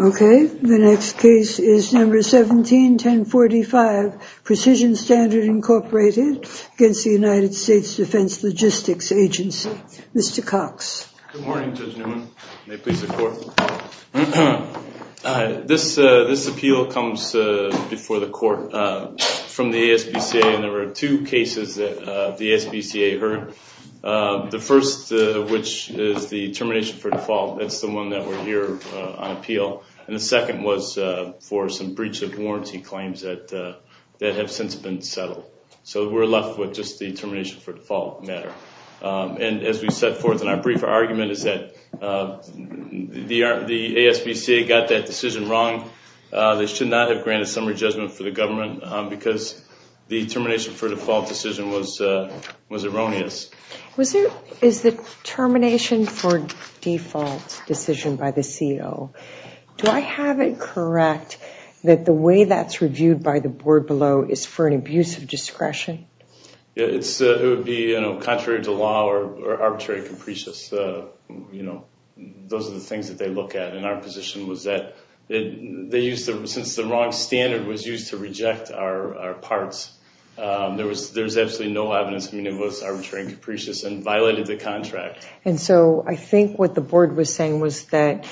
Okay, the next case is number 17-1045, Precision Standard, Inc. against the United States Defense Logistics Agency. Mr. Cox. Good morning, Judge Newman. May it please the Court. This appeal comes before the Court from the ASPCA, and there were two cases that the ASPCA heard. The first, which is the termination for default. That's the one that we're here on appeal. And the second was for some breach of warranty claims that have since been settled. So we're left with just the termination for default matter. And as we set forth in our brief argument is that the ASPCA got that decision wrong. They should not have granted summary judgment for the government because the termination for default decision was erroneous. Is the termination for default decision by the CO, do I have it correct that the way that's reviewed by the board below is for an abuse of discretion? It would be contrary to law or arbitrary and capricious. Those are the things that they look at. And our position was that since the wrong standard was used to reject our parts, there was absolutely no evidence that it was arbitrary and capricious and violated the contract. And so I think what the board was saying was that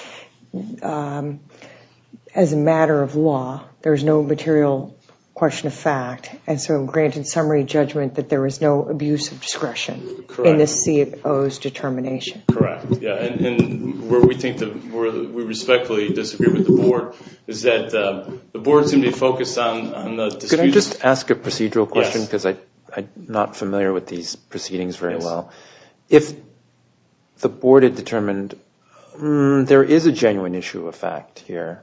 as a matter of law, there's no material question of fact. And so granted summary judgment that there was no abuse of discretion in the CO's determination. Correct. And where we respectfully disagree with the board is that the board seemed to be focused on the dispute. Can I just ask a procedural question? Yes. Because I'm not familiar with these proceedings very well. If the board had determined there is a genuine issue of fact here,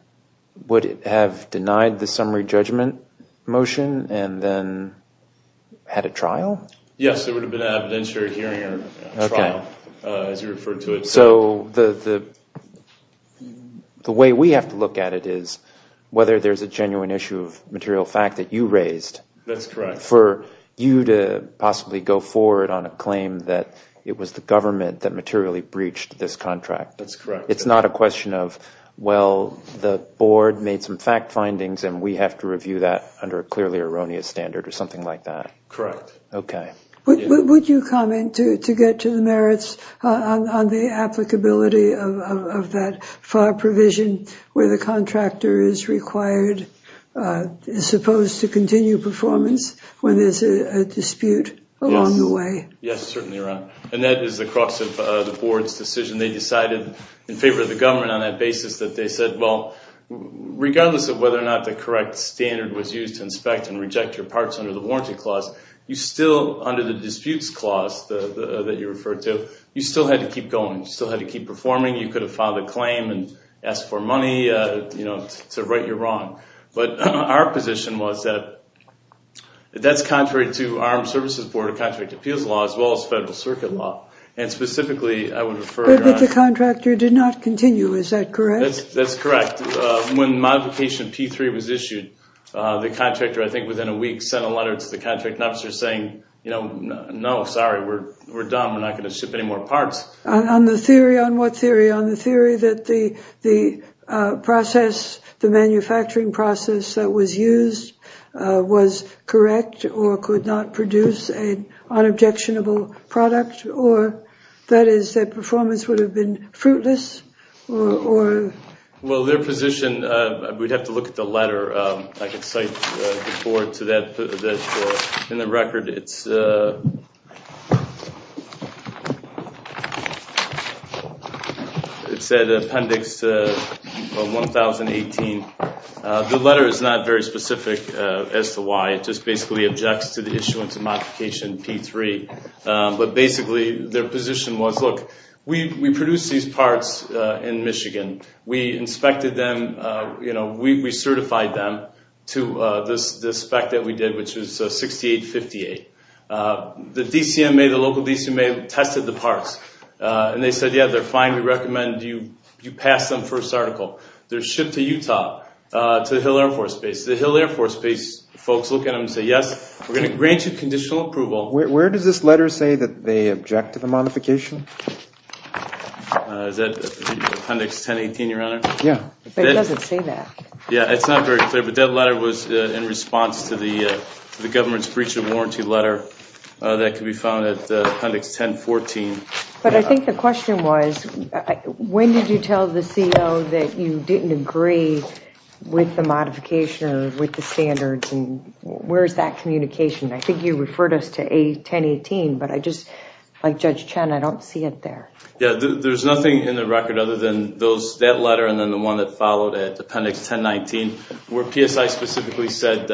would it have denied the summary judgment motion and then had a trial? Yes, there would have been an evidentiary hearing or trial as you referred to it. So the way we have to look at it is whether there's a genuine issue of material fact that you raised. That's correct. For you to possibly go forward on a claim that it was the government that materially breached this contract. That's correct. It's not a question of, well, the board made some fact findings and we have to review that under a clearly erroneous standard or something like that. Correct. Okay. Would you comment to get to the merits on the applicability of that FAR provision where the contractor is required, is supposed to continue performance when there's a dispute along the way? Yes, certainly. And that is the crux of the board's decision. They decided in favor of the government on that basis that they said, well, regardless of whether or not the correct standard was used to inspect and reject your parts under the warranty clause, you still under the disputes clause that you referred to, you still had to keep going. You still had to keep performing. You could have filed a claim and asked for money to right your wrong. But our position was that that's contrary to Armed Services Board of Contract Appeals Law as well as Federal Circuit Law. And specifically, I would refer... But the contractor did not continue, is that correct? That's correct. When modification P3 was issued, the contractor, I think within a week, sent a letter to the On the theory, on what theory? On the theory that the manufacturing process that was used was correct or could not produce an unobjectionable product? Or that is, that performance would have been fruitless? Well, their position, we'd have to look at the record. It said Appendix 1018. The letter is not very specific as to why. It just basically objects to the issuance of modification P3. But basically, their position was, look, we produced these parts in Michigan. We inspected them. We certified them to this spec that we did, which was 6858. The DCMA, the local DCMA, tested the parts. And they said, yeah, they're fine. We recommend you pass them first article. They're shipped to Utah, to the Hill Air Force Base. The Hill Air Force Base folks look at them and say, yes, we're going to grant you conditional approval. Where does this letter say that they object to the modification? Is that Appendix 1018, Your Honor? Yeah. It doesn't say that. Yeah, it's not very clear. But that letter was in response to the government's breach of warranty letter that can be found at Appendix 1014. But I think the question was, when did you tell the CO that you didn't agree with the modification or with the standards? And where's that communication? I think you referred us to A1018. But I just, like Judge Chen, I don't see it there. Yeah, there's nothing in the record other than that letter and then the one that followed it, Appendix 1019, where PSI specifically said,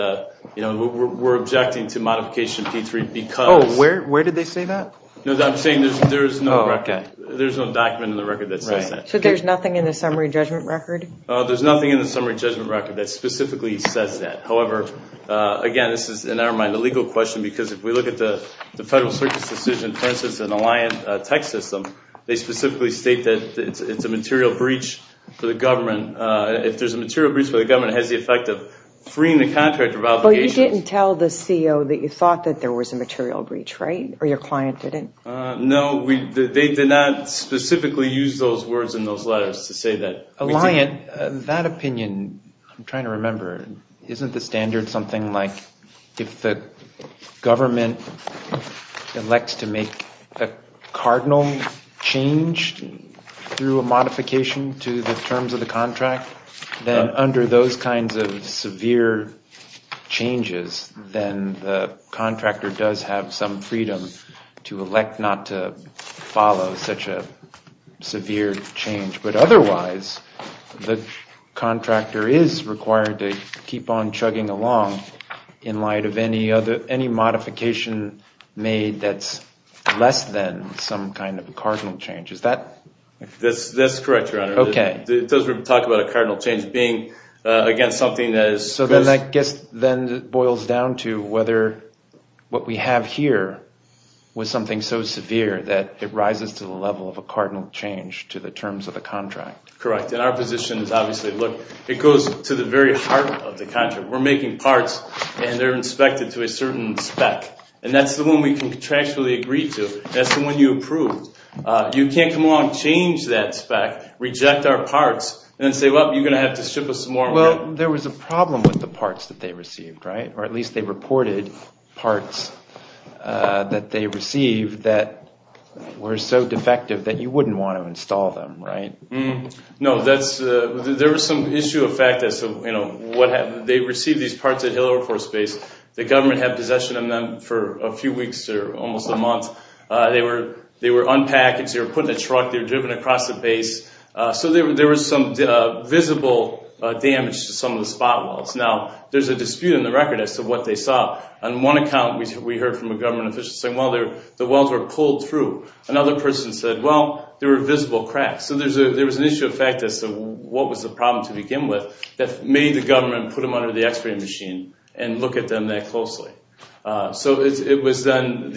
we're objecting to modification P3 because... Oh, where did they say that? No, I'm saying there's no record. There's no document in the record that says that. So there's nothing in the summary judgment record? There's nothing in the summary judgment record that specifically says that. However, again, this is, in our mind, a legal question. Because if we look at the Federal Circuit's decision, for instance, an Alliant tech system, they specifically state that it's a material breach for the government. If there's a material breach for the government, it has the effect of freeing the contractor of obligations. But you didn't tell the CO that you thought that there was a material breach, right? Or your client didn't? No, they did not specifically use those words in those letters to say that. Alliant, that opinion, I'm trying to remember, isn't the standard something like, if the government elects to make a cardinal change through a modification to the terms of the contract, then under those kinds of severe changes, then the contractor does have some freedom to elect not to follow such a severe change. But otherwise, the contractor is required to keep on chugging along in light of any modification made that's less than some kind of a cardinal change. Is that? That's correct, Your Honor. Okay. It doesn't talk about a cardinal change being, again, something that is... So then that boils down to whether what we have here was something so severe that it rises to the level of a cardinal change to the terms of the contract. Correct. And our position is obviously, look, it goes to the very heart of the contract. We're making parts, and they're inspected to a certain spec. And that's the one we contractually agreed to. That's the one you approved. You can't come along and change that spec, reject our parts, and then say, well, you're going to have to ship us more. Well, there was a problem with the parts that they received, right? Or at least they reported parts that they received that were so defective that you wouldn't want to install them, right? No. There was some issue of fact. They received these parts at Hill Air Force Base. The government had possession of them for a few weeks or almost a month. They were unpackaged. They were put in a truck. They were driven across the base. So there was some visible damage to some of the spot welds. Now, there's a dispute in the record as to what they saw. On one account, we heard from a government official saying, well, the welds were pulled through. Another person said, well, there were visible cracks. So there was an issue of fact as to what was the problem to begin with that made the government put them under the x-ray machine and look at them that closely. So when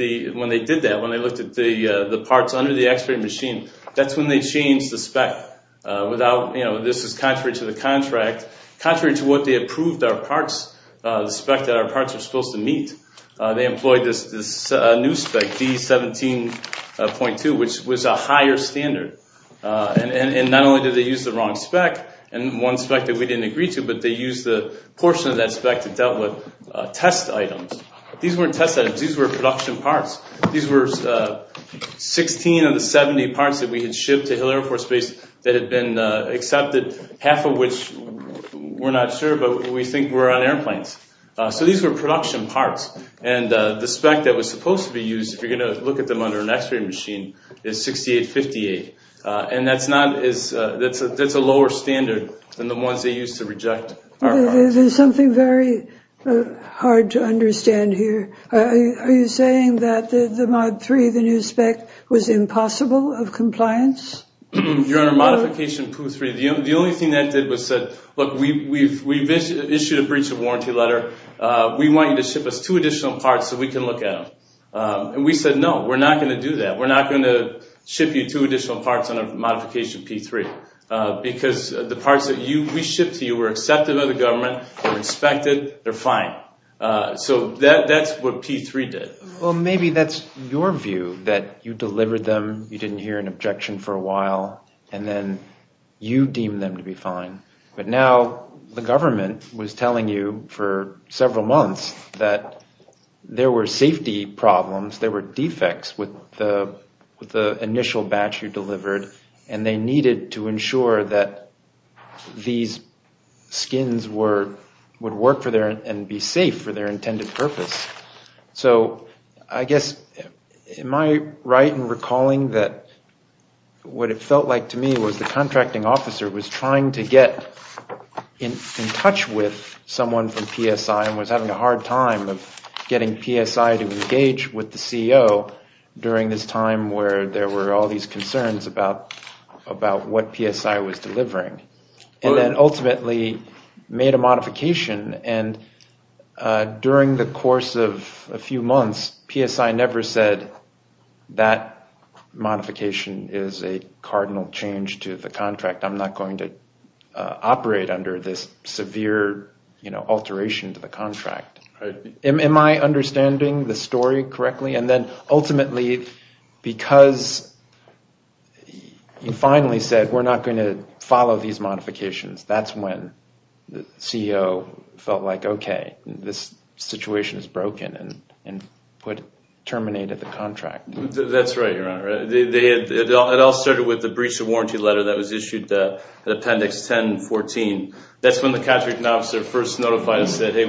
they did that, when they looked at the parts under the x-ray machine, that's when they changed the spec. This is contrary to the contract, contrary to what they approved our parts, the spec that our parts were supposed to meet. They employed this new spec, D17.2, which was a higher standard. And not only did they use the wrong spec and one spec that we didn't agree to, but they used the portion of that spec to dealt with test items. These weren't test items. These were production parts. These were 16 of the 70 parts that we had shipped to Hill Air Force Base that had been accepted, half of which we're not sure, but we think were on airplanes. So these were production parts. And the spec that was supposed to be used, if you're going to look at them under an x-ray machine, is 6858. And that's a lower standard than the ones they used to reject our parts. There's something very hard to understand here. Are you saying that the Mod 3, the new spec, was impossible of compliance? You're under Modification Pooh 3. The only thing that did was said, look, we've issued a breach of warranty letter. We want you to ship us two additional parts so we can look at them. And we said, no, we're not going to do that. We're not going to ship you two additional parts under Modification P3. Because the parts that we shipped to you were accepted by the government, they're inspected, they're fine. So that's what P3 did. Well, maybe that's your view, that you delivered them, you didn't hear an objection for a while, and then you deem them to be fine. But now the government was telling you for several months that there were safety problems, there were defects with the initial batch you delivered, and they needed to ensure that these skins would work and be safe for their intended purpose. So I guess, am I right in recalling that what it felt like to me was the contracting officer was trying to get in touch with someone from PSI and was having a hard time of getting PSI to engage with the CEO during this time where there were all these concerns about what PSI was a few months, PSI never said, that modification is a cardinal change to the contract. I'm not going to operate under this severe alteration to the contract. Am I understanding the story correctly? And then ultimately, because you finally said, we're not going to follow these modifications, that's when the CEO felt like, okay, this situation is broken and put, terminated the contract. That's right, Your Honor. It all started with the breach of warranty letter that was issued at Appendix 10 and 14. That's when the contracting officer first notified us that, hey,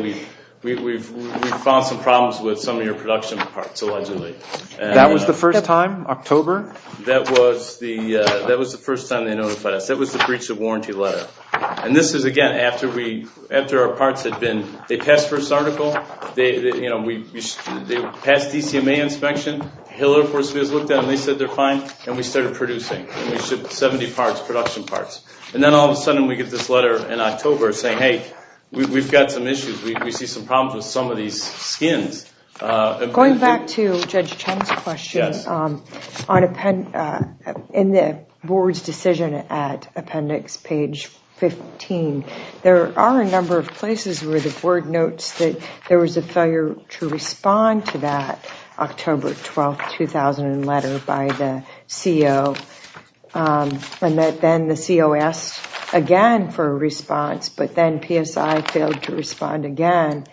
we've found some problems with some of your production parts, allegedly. That was the first time, October? That was the first time they notified us. That was the breach of warranty letter. And this is, again, after our parts had been, they passed first article, they passed DCMA inspection, Hill Air Force Base looked at them, they said they're fine, and we started producing. We shipped 70 parts, production parts. And then all of a sudden, we get this letter in October saying, hey, we've got some issues. We see some problems with some of these skins. Going back to Judge Chen's question, on, in the board's decision at Appendix page 15, there are a number of places where the board notes that there was a failure to respond to that October 12, 2000 letter by the CEO. And that then the CEO asked again for a response, but then PSI failed to respond again.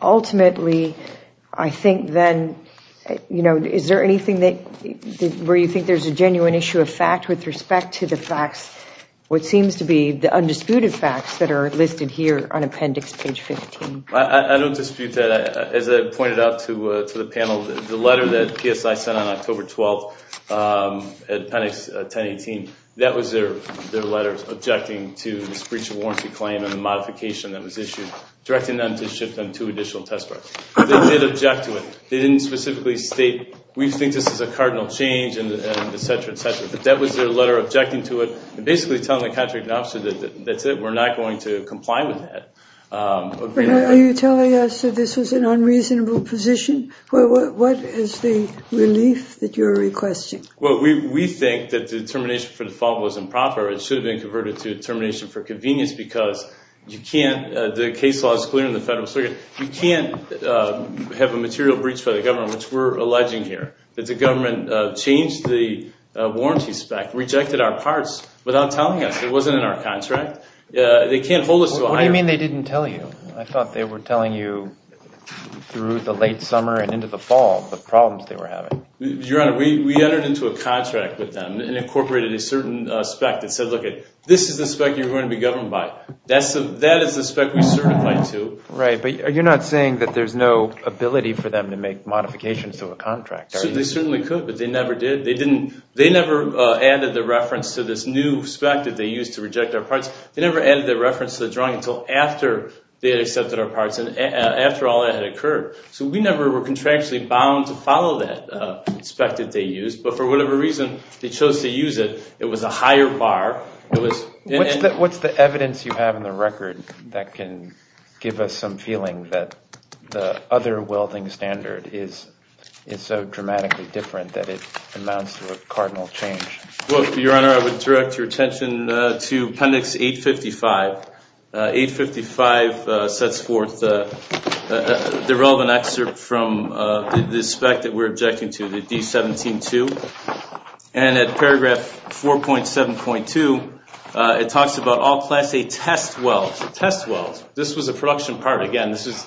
Ultimately, I think then, you know, is there anything that, where you think there's a genuine issue of fact with respect to the facts, what seems to be the undisputed facts that are listed here on Appendix page 15? I don't dispute that. As I pointed out to the panel, the letter that PSI sent on October 12 at Appendix 1018, that was their letter objecting to this breach of warranty claim and the modification that was issued, directing them to ship them two additional test parts. They did object to it. They didn't specifically state, we think this is a cardinal change and et cetera, et cetera. But that was their letter objecting to it and basically telling the contracting officer that that's it, we're not going to comply with that. Are you telling us that this was an unreasonable position? What is the relief that you're requesting? Well, we think that the determination for default was improper. It should have been converted to determination for default. The case law is clear in the federal circuit. You can't have a material breach for the government, which we're alleging here, that the government changed the warranty spec, rejected our parts without telling us. It wasn't in our contract. They can't hold us to a higher- What do you mean they didn't tell you? I thought they were telling you through the late summer and into the fall, the problems they were having. Your Honor, we entered into a contract with them and incorporated a certain spec that said, look, this is the spec you're going to be governed by. That is the spec we certified to. Right, but you're not saying that there's no ability for them to make modifications to a contract, are you? They certainly could, but they never did. They never added the reference to this new spec that they used to reject our parts. They never added the reference to the drawing until after they had accepted our parts and after all that had occurred. So we never were contractually bound to follow that spec that they used. But for whatever reason, they chose to use it. It was a higher bar. What's the evidence you have in the record that can give us some feeling that the other welding standard is so dramatically different that it amounts to a cardinal change? Well, Your Honor, I would direct your attention to Appendix 855. 855 sets forth the relevant excerpt from the spec that we're objecting to, the D-17-2. And at paragraph 4.7.2, it talks about all Class A test welds. Test welds. This was a production part. Again, this is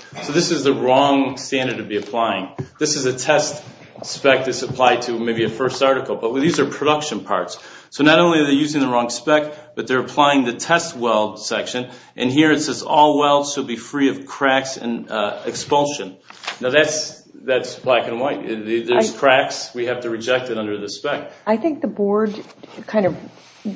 the wrong standard to be applying. This is a test spec that's applied to maybe a first article. But these are production parts. So not only are they using the wrong spec, but they're applying the test weld section. And here it says all welds should be free of cracks and expulsion. Now that's black and white. There's cracks. We have to reject it under the spec. I think the board kind of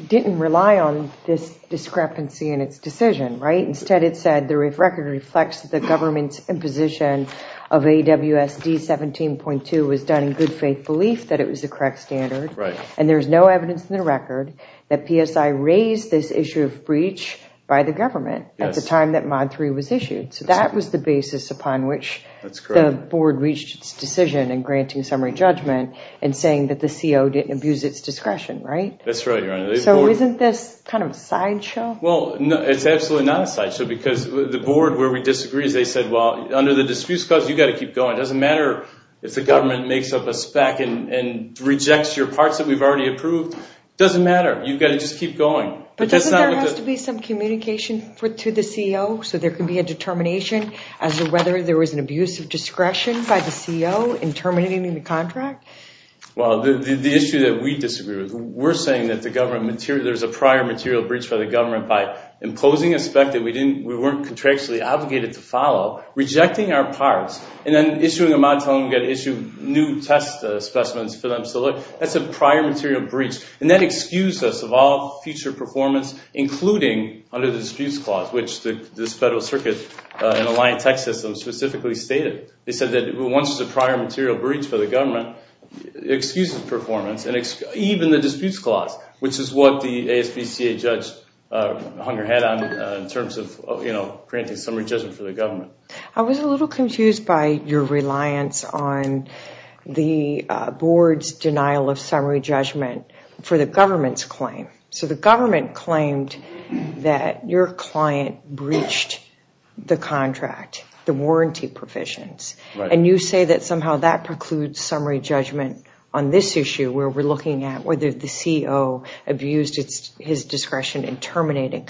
didn't rely on this discrepancy in its decision, right? Instead, it said the record reflects the government's imposition of AWS D-17.2 was done in good faith that it was the correct standard. And there's no evidence in the record that PSI raised this issue of breach by the government at the time that Mod 3 was issued. So that was the basis upon which the board reached its decision in granting summary judgment and saying that the CO didn't abuse its discretion, right? That's right, Your Honor. So isn't this kind of a sideshow? Well, it's absolutely not a sideshow because the board, where we disagree, they said, well, under the disputes clause, it doesn't matter if the government makes up a spec and rejects your parts that we've already approved. It doesn't matter. You've got to just keep going. But doesn't there have to be some communication to the CO so there can be a determination as to whether there was an abuse of discretion by the CO in terminating the contract? Well, the issue that we disagree with, we're saying that there's a prior material breach by the government by imposing a spec that we weren't contractually obligated to follow, rejecting our parts, and then issuing a mod telling them you've got to issue new test specimens for them to look, that's a prior material breach. And that excused us of all future performance, including under the disputes clause, which this federal circuit and Alliant Tech System specifically stated. They said that once there's a prior material breach for the government, excuses performance and even the disputes clause, which is what the ASPCA judge hung her head on in terms of granting summary judgment for the government. I was a little confused by your reliance on the board's denial of summary judgment for the government's claim. So the government claimed that your client breached the contract, the warranty provisions, and you say that somehow that precludes summary judgment on this issue where we're looking at whether the CO abused his discretion in terminating.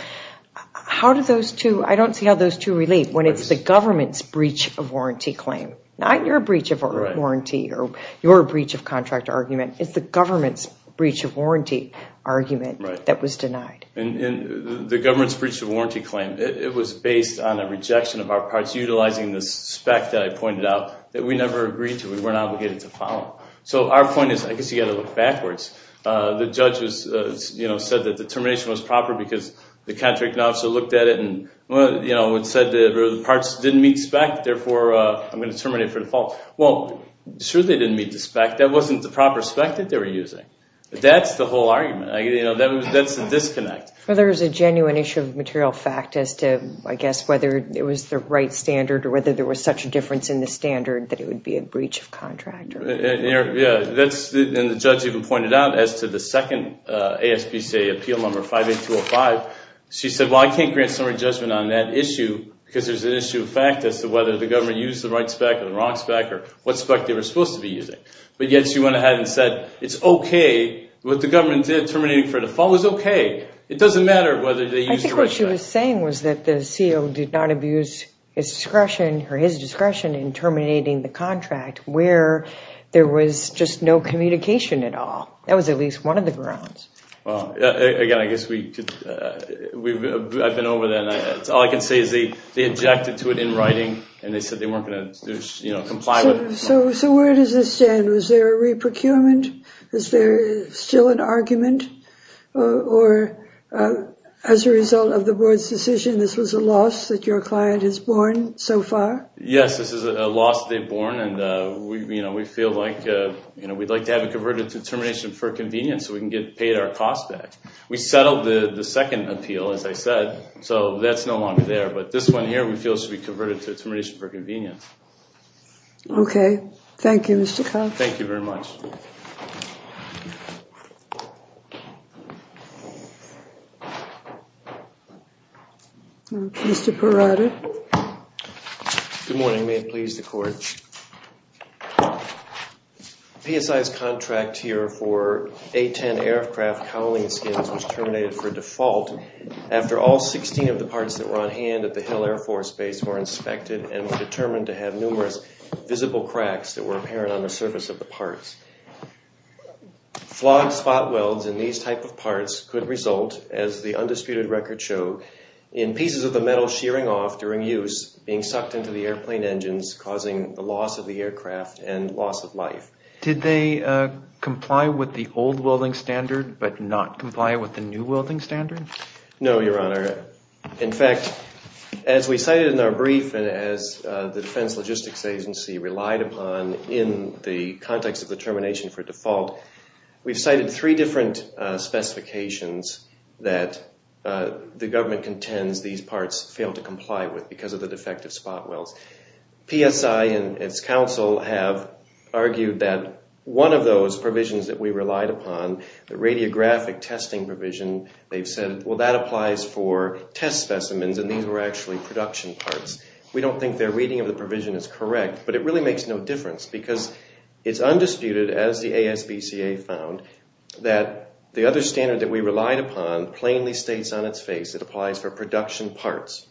How do those two, I don't see how those two relate when it's the government's breach of warranty claim, not your breach of warranty or your breach of contract argument. It's the government's breach of warranty argument that was denied. And the government's breach of warranty claim, it was based on a rejection of our parts utilizing the spec that I pointed out that we never agreed to. We weren't obligated to follow. So our point is, I guess you got to look backwards. The judge said that the termination was proper because the contract officer looked at it and said the parts didn't meet spec, therefore I'm going to terminate for default. Well, sure they didn't meet the spec. That wasn't the proper spec that they were using. That's the whole argument. That's the disconnect. Well, there's a genuine issue of material fact as to, I guess, whether it was the right standard or whether there was such a difference in the standard that it would be a breach of contract. Yeah. And the judge even pointed out as to the second ASPCA appeal number 58205, she said, well, I can't grant summary judgment on that issue because there's an issue of fact as to whether the government used the right spec or the wrong spec or what spec they were supposed to be using. But yet she went ahead and said, it's okay. What the government did, terminating for default was okay. It doesn't matter whether they used the right spec. I think what she was saying was that the CO did not abuse his discretion or his discretion in there was just no communication at all. That was at least one of the grounds. Well, again, I guess I've been over that. All I can say is they objected to it in writing and they said they weren't going to comply with it. So where does this stand? Was there a re-procurement? Is there still an argument? Or as a result of the board's decision, this was a loss that your client has borne so far? Yes, this is a loss they've borne and we feel like we'd like to have it converted to termination for convenience so we can get paid our costs back. We settled the second appeal, as I said, so that's no longer there. But this one here we feel should be converted to termination for convenience. Okay. Thank you, Mr. Cox. Thank you very much. Mr. Perotta. Good morning. May it please the court. PSI's contract here for A-10 aircraft cowling skins was terminated for default after all 16 of the parts that were on hand at the Hill Air Force Base were inspected and determined to have numerous visible cracks that were apparent on the surface of the parts. Flawed spot welds in these type of parts could result, as the undisputed records show, in pieces of the metal shearing off during use, being sucked into the airplane engines, causing the loss of the aircraft and loss of life. Did they comply with the old welding standard but not comply with the new welding standard? No, Your Honor. In fact, as we cited in our brief and as the Defense Logistics Agency relied upon in the context of the termination for default, we've cited three different specifications that the government contends these parts failed to comply with because of the defective spot welds. PSI and its counsel have argued that one of those provisions that we relied upon, the radiographic testing provision, they've said, well, that applies for test specimens, and these were actually production parts. We don't think their reading of the provision is correct, but it really makes no difference because it's undisputed, as the ASBCA found, that the other standard that we relied upon plainly states on its face it applies for production parts,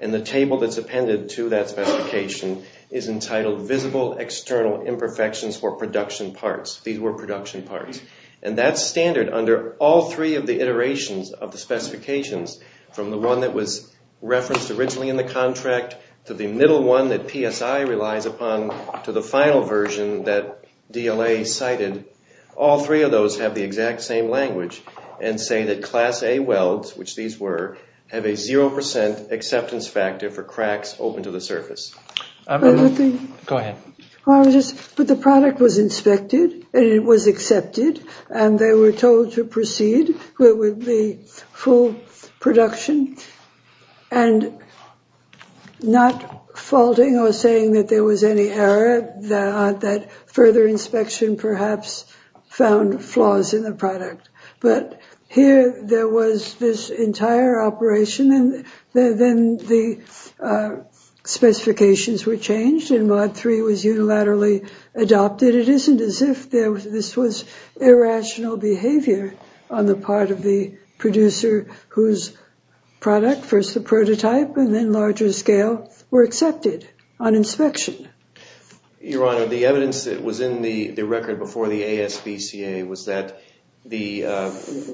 and the table that's appended to that specification is entitled Visible External Imperfections for Production Parts. These were production parts, and that standard, under all three of the iterations of the specifications, from the one that was PSI relies upon to the final version that DLA cited, all three of those have the exact same language and say that Class A welds, which these were, have a 0% acceptance factor for cracks open to the surface. Go ahead. The product was inspected, and it was accepted, and they were told to proceed with the full production, and not faulting or saying that there was any error, that further inspection perhaps found flaws in the product. But here there was this entire operation, and then the specifications were changed, and Mod 3 was accepted, and there was no irrational behavior on the part of the producer whose product, first the prototype and then larger scale, were accepted on inspection. Your Honor, the evidence that was in the record before the ASBCA was that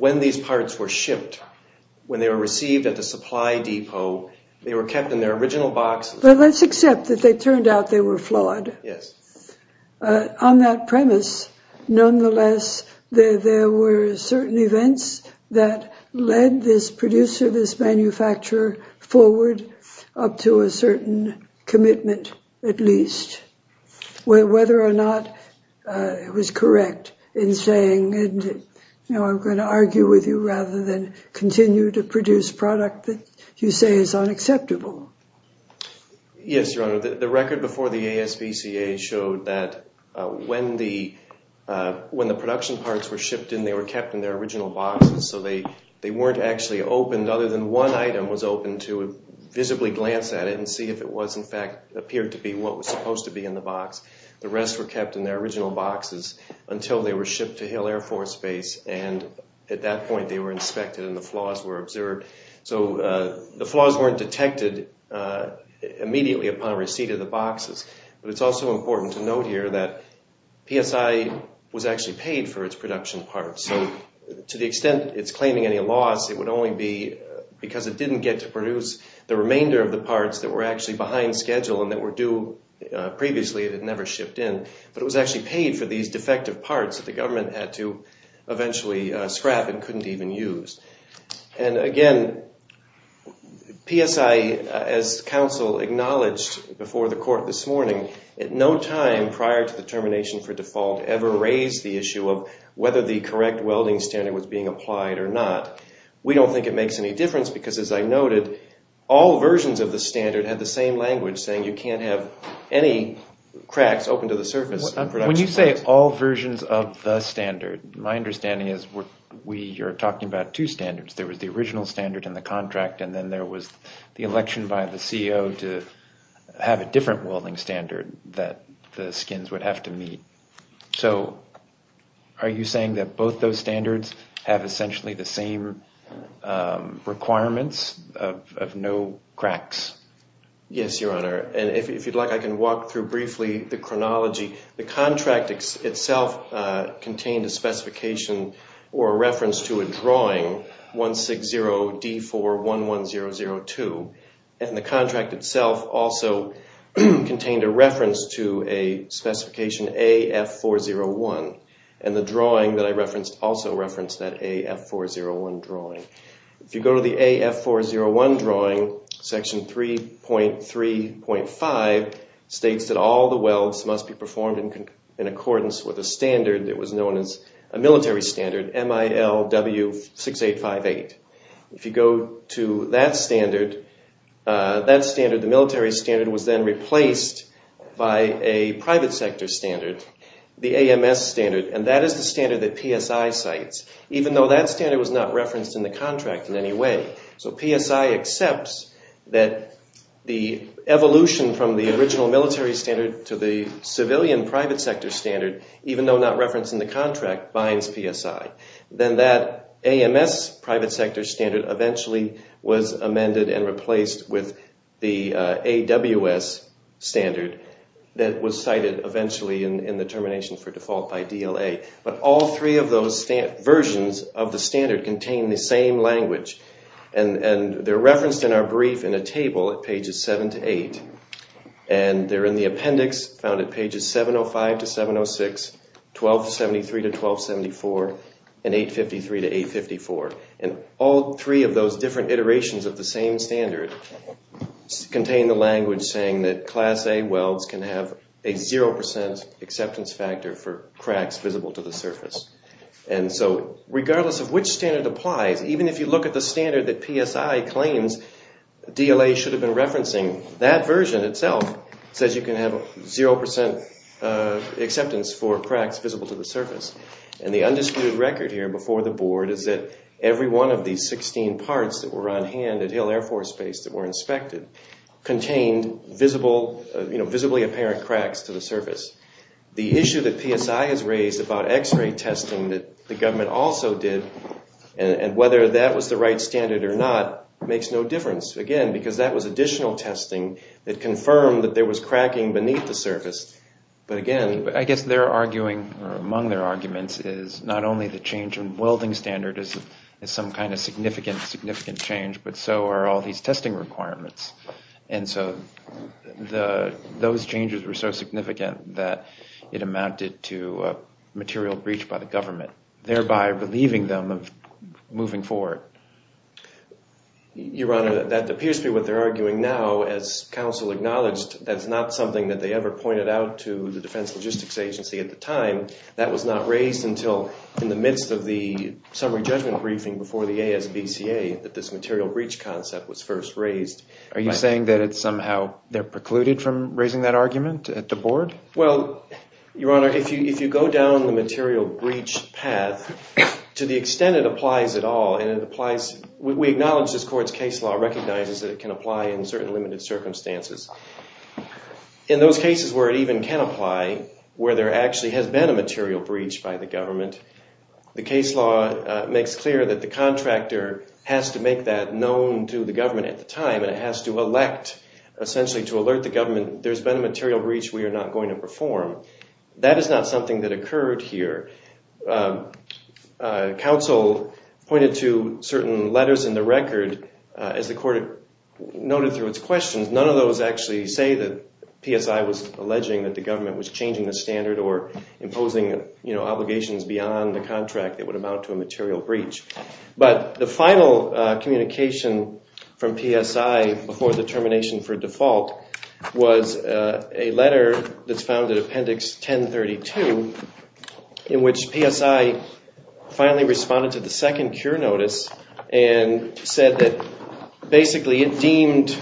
when these parts were shipped, when they were received at the supply depot, they were kept in their original boxes. But let's accept that they were certain events that led this producer, this manufacturer, forward up to a certain commitment, at least. Whether or not it was correct in saying, you know, I'm going to argue with you rather than continue to produce product that you say is unacceptable. Yes, Your Honor. The record before the ASBCA showed that when the production parts were shipped in, they were kept in their original boxes. So they weren't actually opened, other than one item was opened to visibly glance at it and see if it was in fact, appeared to be what was supposed to be in the box. The rest were kept in their original boxes until they were shipped to Hill Air Force Base, and at that point they were inspected and the flaws were observed. So the flaws weren't detected immediately upon receipt of the boxes. But it's also important to note here that PSI was actually paid for its production parts. So to the extent it's claiming any loss, it would only be because it didn't get to produce the remainder of the parts that were actually behind schedule and that were due previously that had never shipped in. But it was actually paid for these defective parts that the government had to eventually scrap and couldn't even use. And again, PSI, as counsel acknowledged before the court this morning, at no time prior to the termination for default ever raised the issue of whether the correct welding standard was being applied or not. We don't think it makes any difference because as I noted, all versions of the standard had the same language saying you can't have any cracks open to the surface. When you say all versions of the standard, my understanding is we are talking about two standards. There was the original standard in the contract and then there was the election by the CEO to have a different welding standard that the skins would have to meet. So are you saying that both those standards have essentially the same requirements of no cracks? Yes, Your Honor. And if you'd like, I can walk through briefly the chronology. The contract itself contained a specification or a reference to a drawing, 160D411002. And the contract itself also contained a reference to a specification AF401. And the drawing that I referenced also referenced that AF401 drawing. If you go to the AF401 drawing, section 3.3.5 states that all the welds must be performed in accordance with a standard that was known as a military standard, MILW6858. If you go to that standard, that standard, the military standard was then replaced by a private sector standard, the AMS standard. And that is the standard that PSI cites, even though that standard was not referenced in the contract in any way. So PSI accepts that the evolution from the original military standard to the civilian private sector standard, even though not referenced in the contract, binds PSI. Then that AMS private sector standard eventually was amended and replaced with the AWS standard that was cited eventually in the termination for default by DLA. But all three of those versions of the standard contain the same language. And they're referenced in our brief in a table at pages 7 to 8. And they're in the appendix found at pages 705 to 706, 1273 to 1274, and 853 to 854. And all three of those different iterations of the same standard contain the language saying that class A welds can have a zero percent acceptance factor for cracks visible to the surface. And so regardless of which standard applies, even if you look at the standard that PSI claims DLA should have been referencing, that version itself says you can have zero percent acceptance for cracks visible to the surface. And the undisputed record here before the board is that every one of these 16 parts that were on hand at Hill Air Force Base that were inspected contained visible, you know, visibly apparent cracks to the surface. The issue that makes no difference, again, because that was additional testing that confirmed that there was cracking beneath the surface. But again, I guess they're arguing, or among their arguments, is not only the change in welding standard is some kind of significant, significant change, but so are all these testing requirements. And so those changes were so significant that it amounted to material breach by the government, thereby relieving them of moving forward. Your Honor, that appears to be what they're arguing now. As counsel acknowledged, that's not something that they ever pointed out to the Defense Logistics Agency at the time. That was not raised until in the midst of the summary judgment briefing before the ASBCA that this material breach concept was first raised. Are you saying that it's somehow they're precluded from raising that argument at the board? Well, Your Honor, if you go down the material breach path, to the extent it applies at all, and it applies, we acknowledge this court's case law recognizes that it can apply in certain limited circumstances. In those cases where it even can apply, where there actually has been a material breach by the government, the case law makes clear that the contractor has to make that known to the government at the time, and it has to elect essentially to alert the government there's been a material breach we are not going to perform. That is not something that occurred here. Counsel pointed to certain letters in the record, as the court noted through its questions, none of those actually say that PSI was alleging that the government was changing the standard or imposing, you know, obligations beyond the contract that would amount to a material breach. But the final communication from PSI before the termination for default was a letter that's found in appendix 1032 in which PSI finally responded to the second cure notice and said that basically it deemed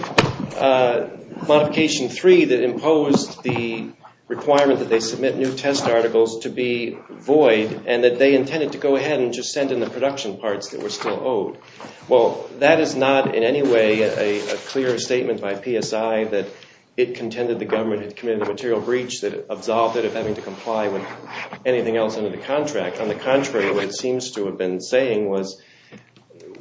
modification three that imposed the requirement that they submit new test articles to be void and that they intended to go ahead and just send in production parts that were still owed. Well, that is not in any way a clear statement by PSI that it contended the government had committed a material breach that absolved it of having to comply with anything else under the contract. On the contrary, what it seems to have been saying was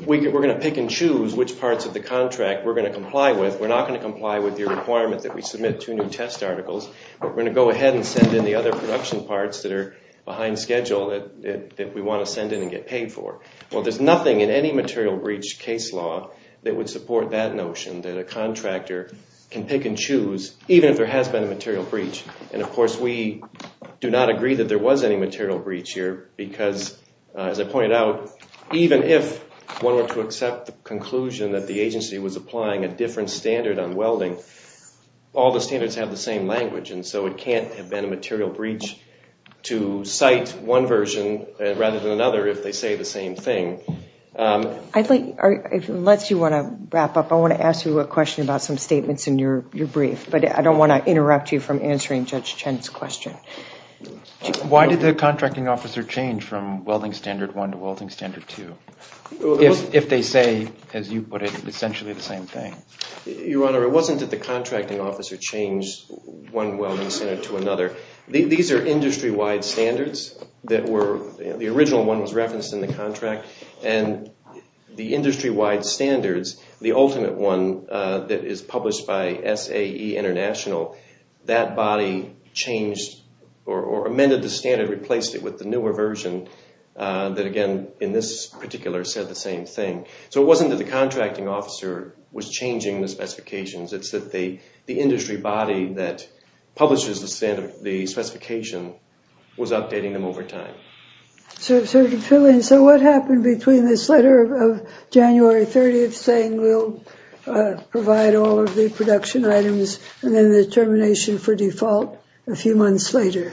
we're going to pick and choose which parts of the contract we're going to comply with. We're not going to comply with your requirement that we submit two new test articles, but we're going to go ahead and send in the other production parts that are behind schedule that we want to send in and get paid for. Well, there's nothing in any material breach case law that would support that notion that a contractor can pick and choose even if there has been a material breach. And, of course, we do not agree that there was any material breach here because, as I pointed out, even if one were to accept the conclusion that the agency was applying a different standard on welding, all the standards have the same language and so it can't have been a material breach to cite one version rather than another if they say the same thing. Unless you want to wrap up, I want to ask you a question about some statements in your brief, but I don't want to interrupt you from answering Judge Chen's question. Why did the contracting officer change from welding standard one to welding standard two if they say, as you put it, essentially the same thing? Your Honor, it wasn't that the contracting officer changed one welding standard to another. These are industry-wide standards. The original one was referenced in the contract and the industry-wide standards, the ultimate one that is published by SAE International, that body changed or amended the standard, replaced it with the newer version that, again, in this particular said the same thing. So it wasn't that the contracting officer was changing the specifications. It's that the updating them over time. So what happened between this letter of January 30th saying we'll provide all of the production items and then the termination for default a few months later?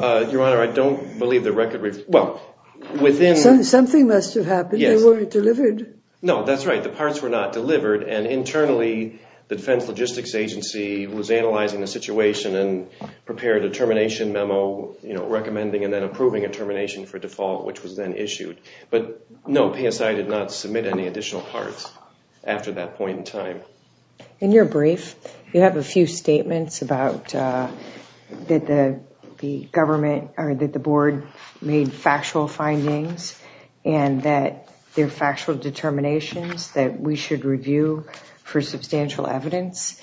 Your Honor, I don't believe the record... Well, within... Something must have happened. They weren't delivered. No, that's right. The parts were not delivered and internally the Defense Logistics Agency was analyzing the situation and prepared a termination memo, you know, recommending and then approving a termination for default, which was then issued. But no, PSI did not submit any additional parts after that point in time. In your brief, you have a few statements about that the government or that the board made factual findings and that they're factual determinations that we should review for substantial evidence.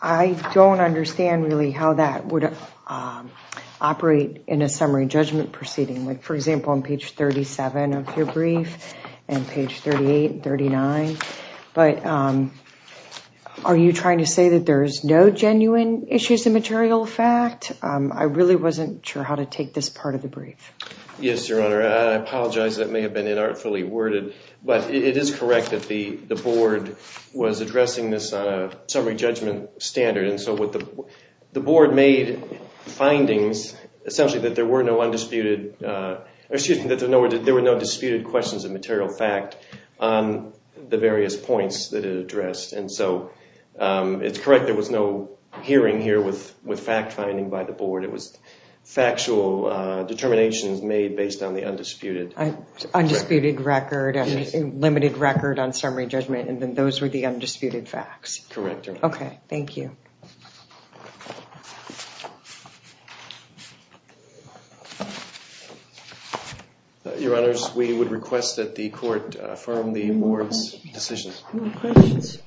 I don't understand really how that would operate in a summary judgment proceeding. Like, for example, on page 37 of your brief and page 38 and 39. But are you trying to say that there's no genuine issues of material fact? I really wasn't sure how to take this part of the brief. Yes, Your Honor. I apologize. That may have been inartfully worded. But it is correct that the board was addressing this on a summary judgment standard. And so what the board made findings, essentially, that there were no undisputed... Excuse me, that there were no disputed questions of material fact on the various points that it addressed. And so it's correct. There was no hearing here with fact finding by the board. It was factual determinations made based on the undisputed... Undisputed record and limited record on summary judgment. And then those were the undisputed facts. Correct. Okay, thank you. Your Honors, we would request that the court affirm the board's decisions. No questions?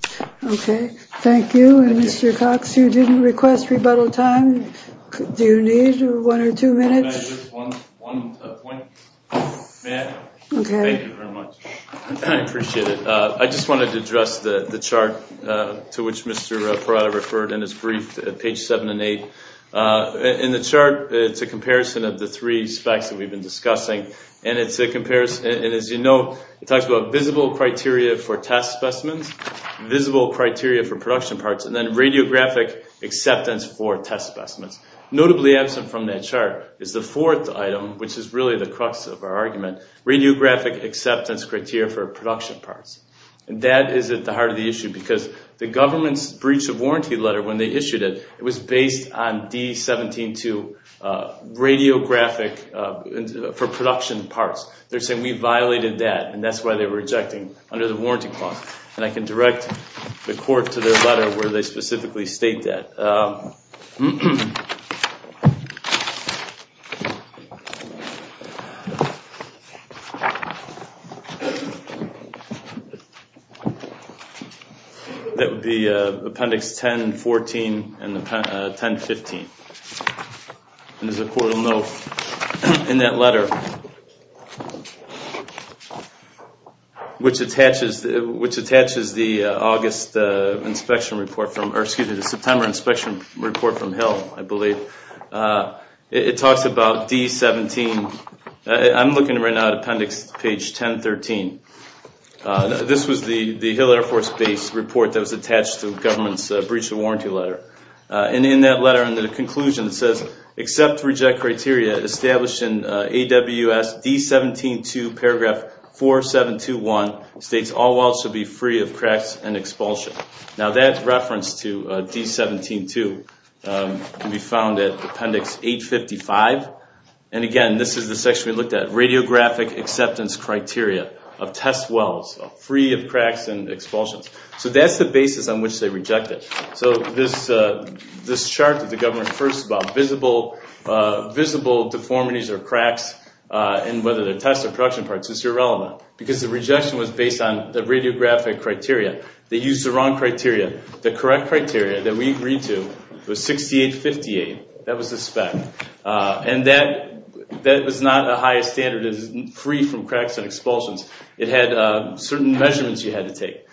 Okay, thank you. And Mr. Cox, you didn't request rebuttal time. Do you need one or two minutes? May I add just one point? May I? Okay. Thank you very much. I appreciate it. I just wanted to address the chart to which Mr. Parada referred in his brief, page 7 and 8. In the chart, it's a comparison of the three specs that we've been discussing. And as you know, it talks about visible criteria for test specimens, visible criteria for production parts, and then radiographic acceptance for test specimens. Notably absent from that chart is the fourth item, which is really the crux of our argument, radiographic acceptance criteria for production parts. And that is at the heart of the issue because the government's breach of They're saying we violated that, and that's why they were rejecting under the warranty clause. And I can direct the court to their letter where they specifically state that. That would be Appendix 10-14 and 10-15. And as the court will know in that letter, which attaches the September inspection report from Hill, I believe, it talks about D-17. I'm looking right now at Appendix 10-13. This was the Hill Air Force Base report that was attached to the government's breach of warranty letter. And in that letter, in the conclusion, it says, Accept to reject criteria established in AWS D-17-2 paragraph 4721 states all wells should be free of cracks and expulsion. Now that reference to D-17-2 can be found at Appendix 8-55. And again, this is the section we looked at, radiographic acceptance criteria of test wells free of cracks and expulsions. So that's the basis on which they reject it. So this chart that the government refers to about visible deformities or cracks in whether they're test or production parts is irrelevant because the rejection was based on the radiographic criteria. They used the wrong criteria. The correct criteria that we agreed to was 68-58. That was the spec. And that was not the highest standard, free from cracks and expulsions. It had certain measurements you had to take.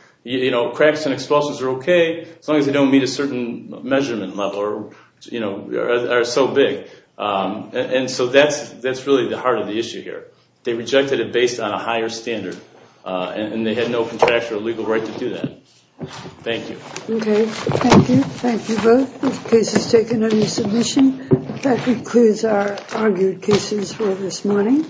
Cracks and expulsions are okay as long as they don't meet a certain measurement level or are so big. And so that's really the heart of the issue here. They rejected it based on a higher standard, and they had no contractual or legal right to do that. Thank you. Okay, thank you. Thank you both. If case is taken under submission, that concludes our argued cases for this morning.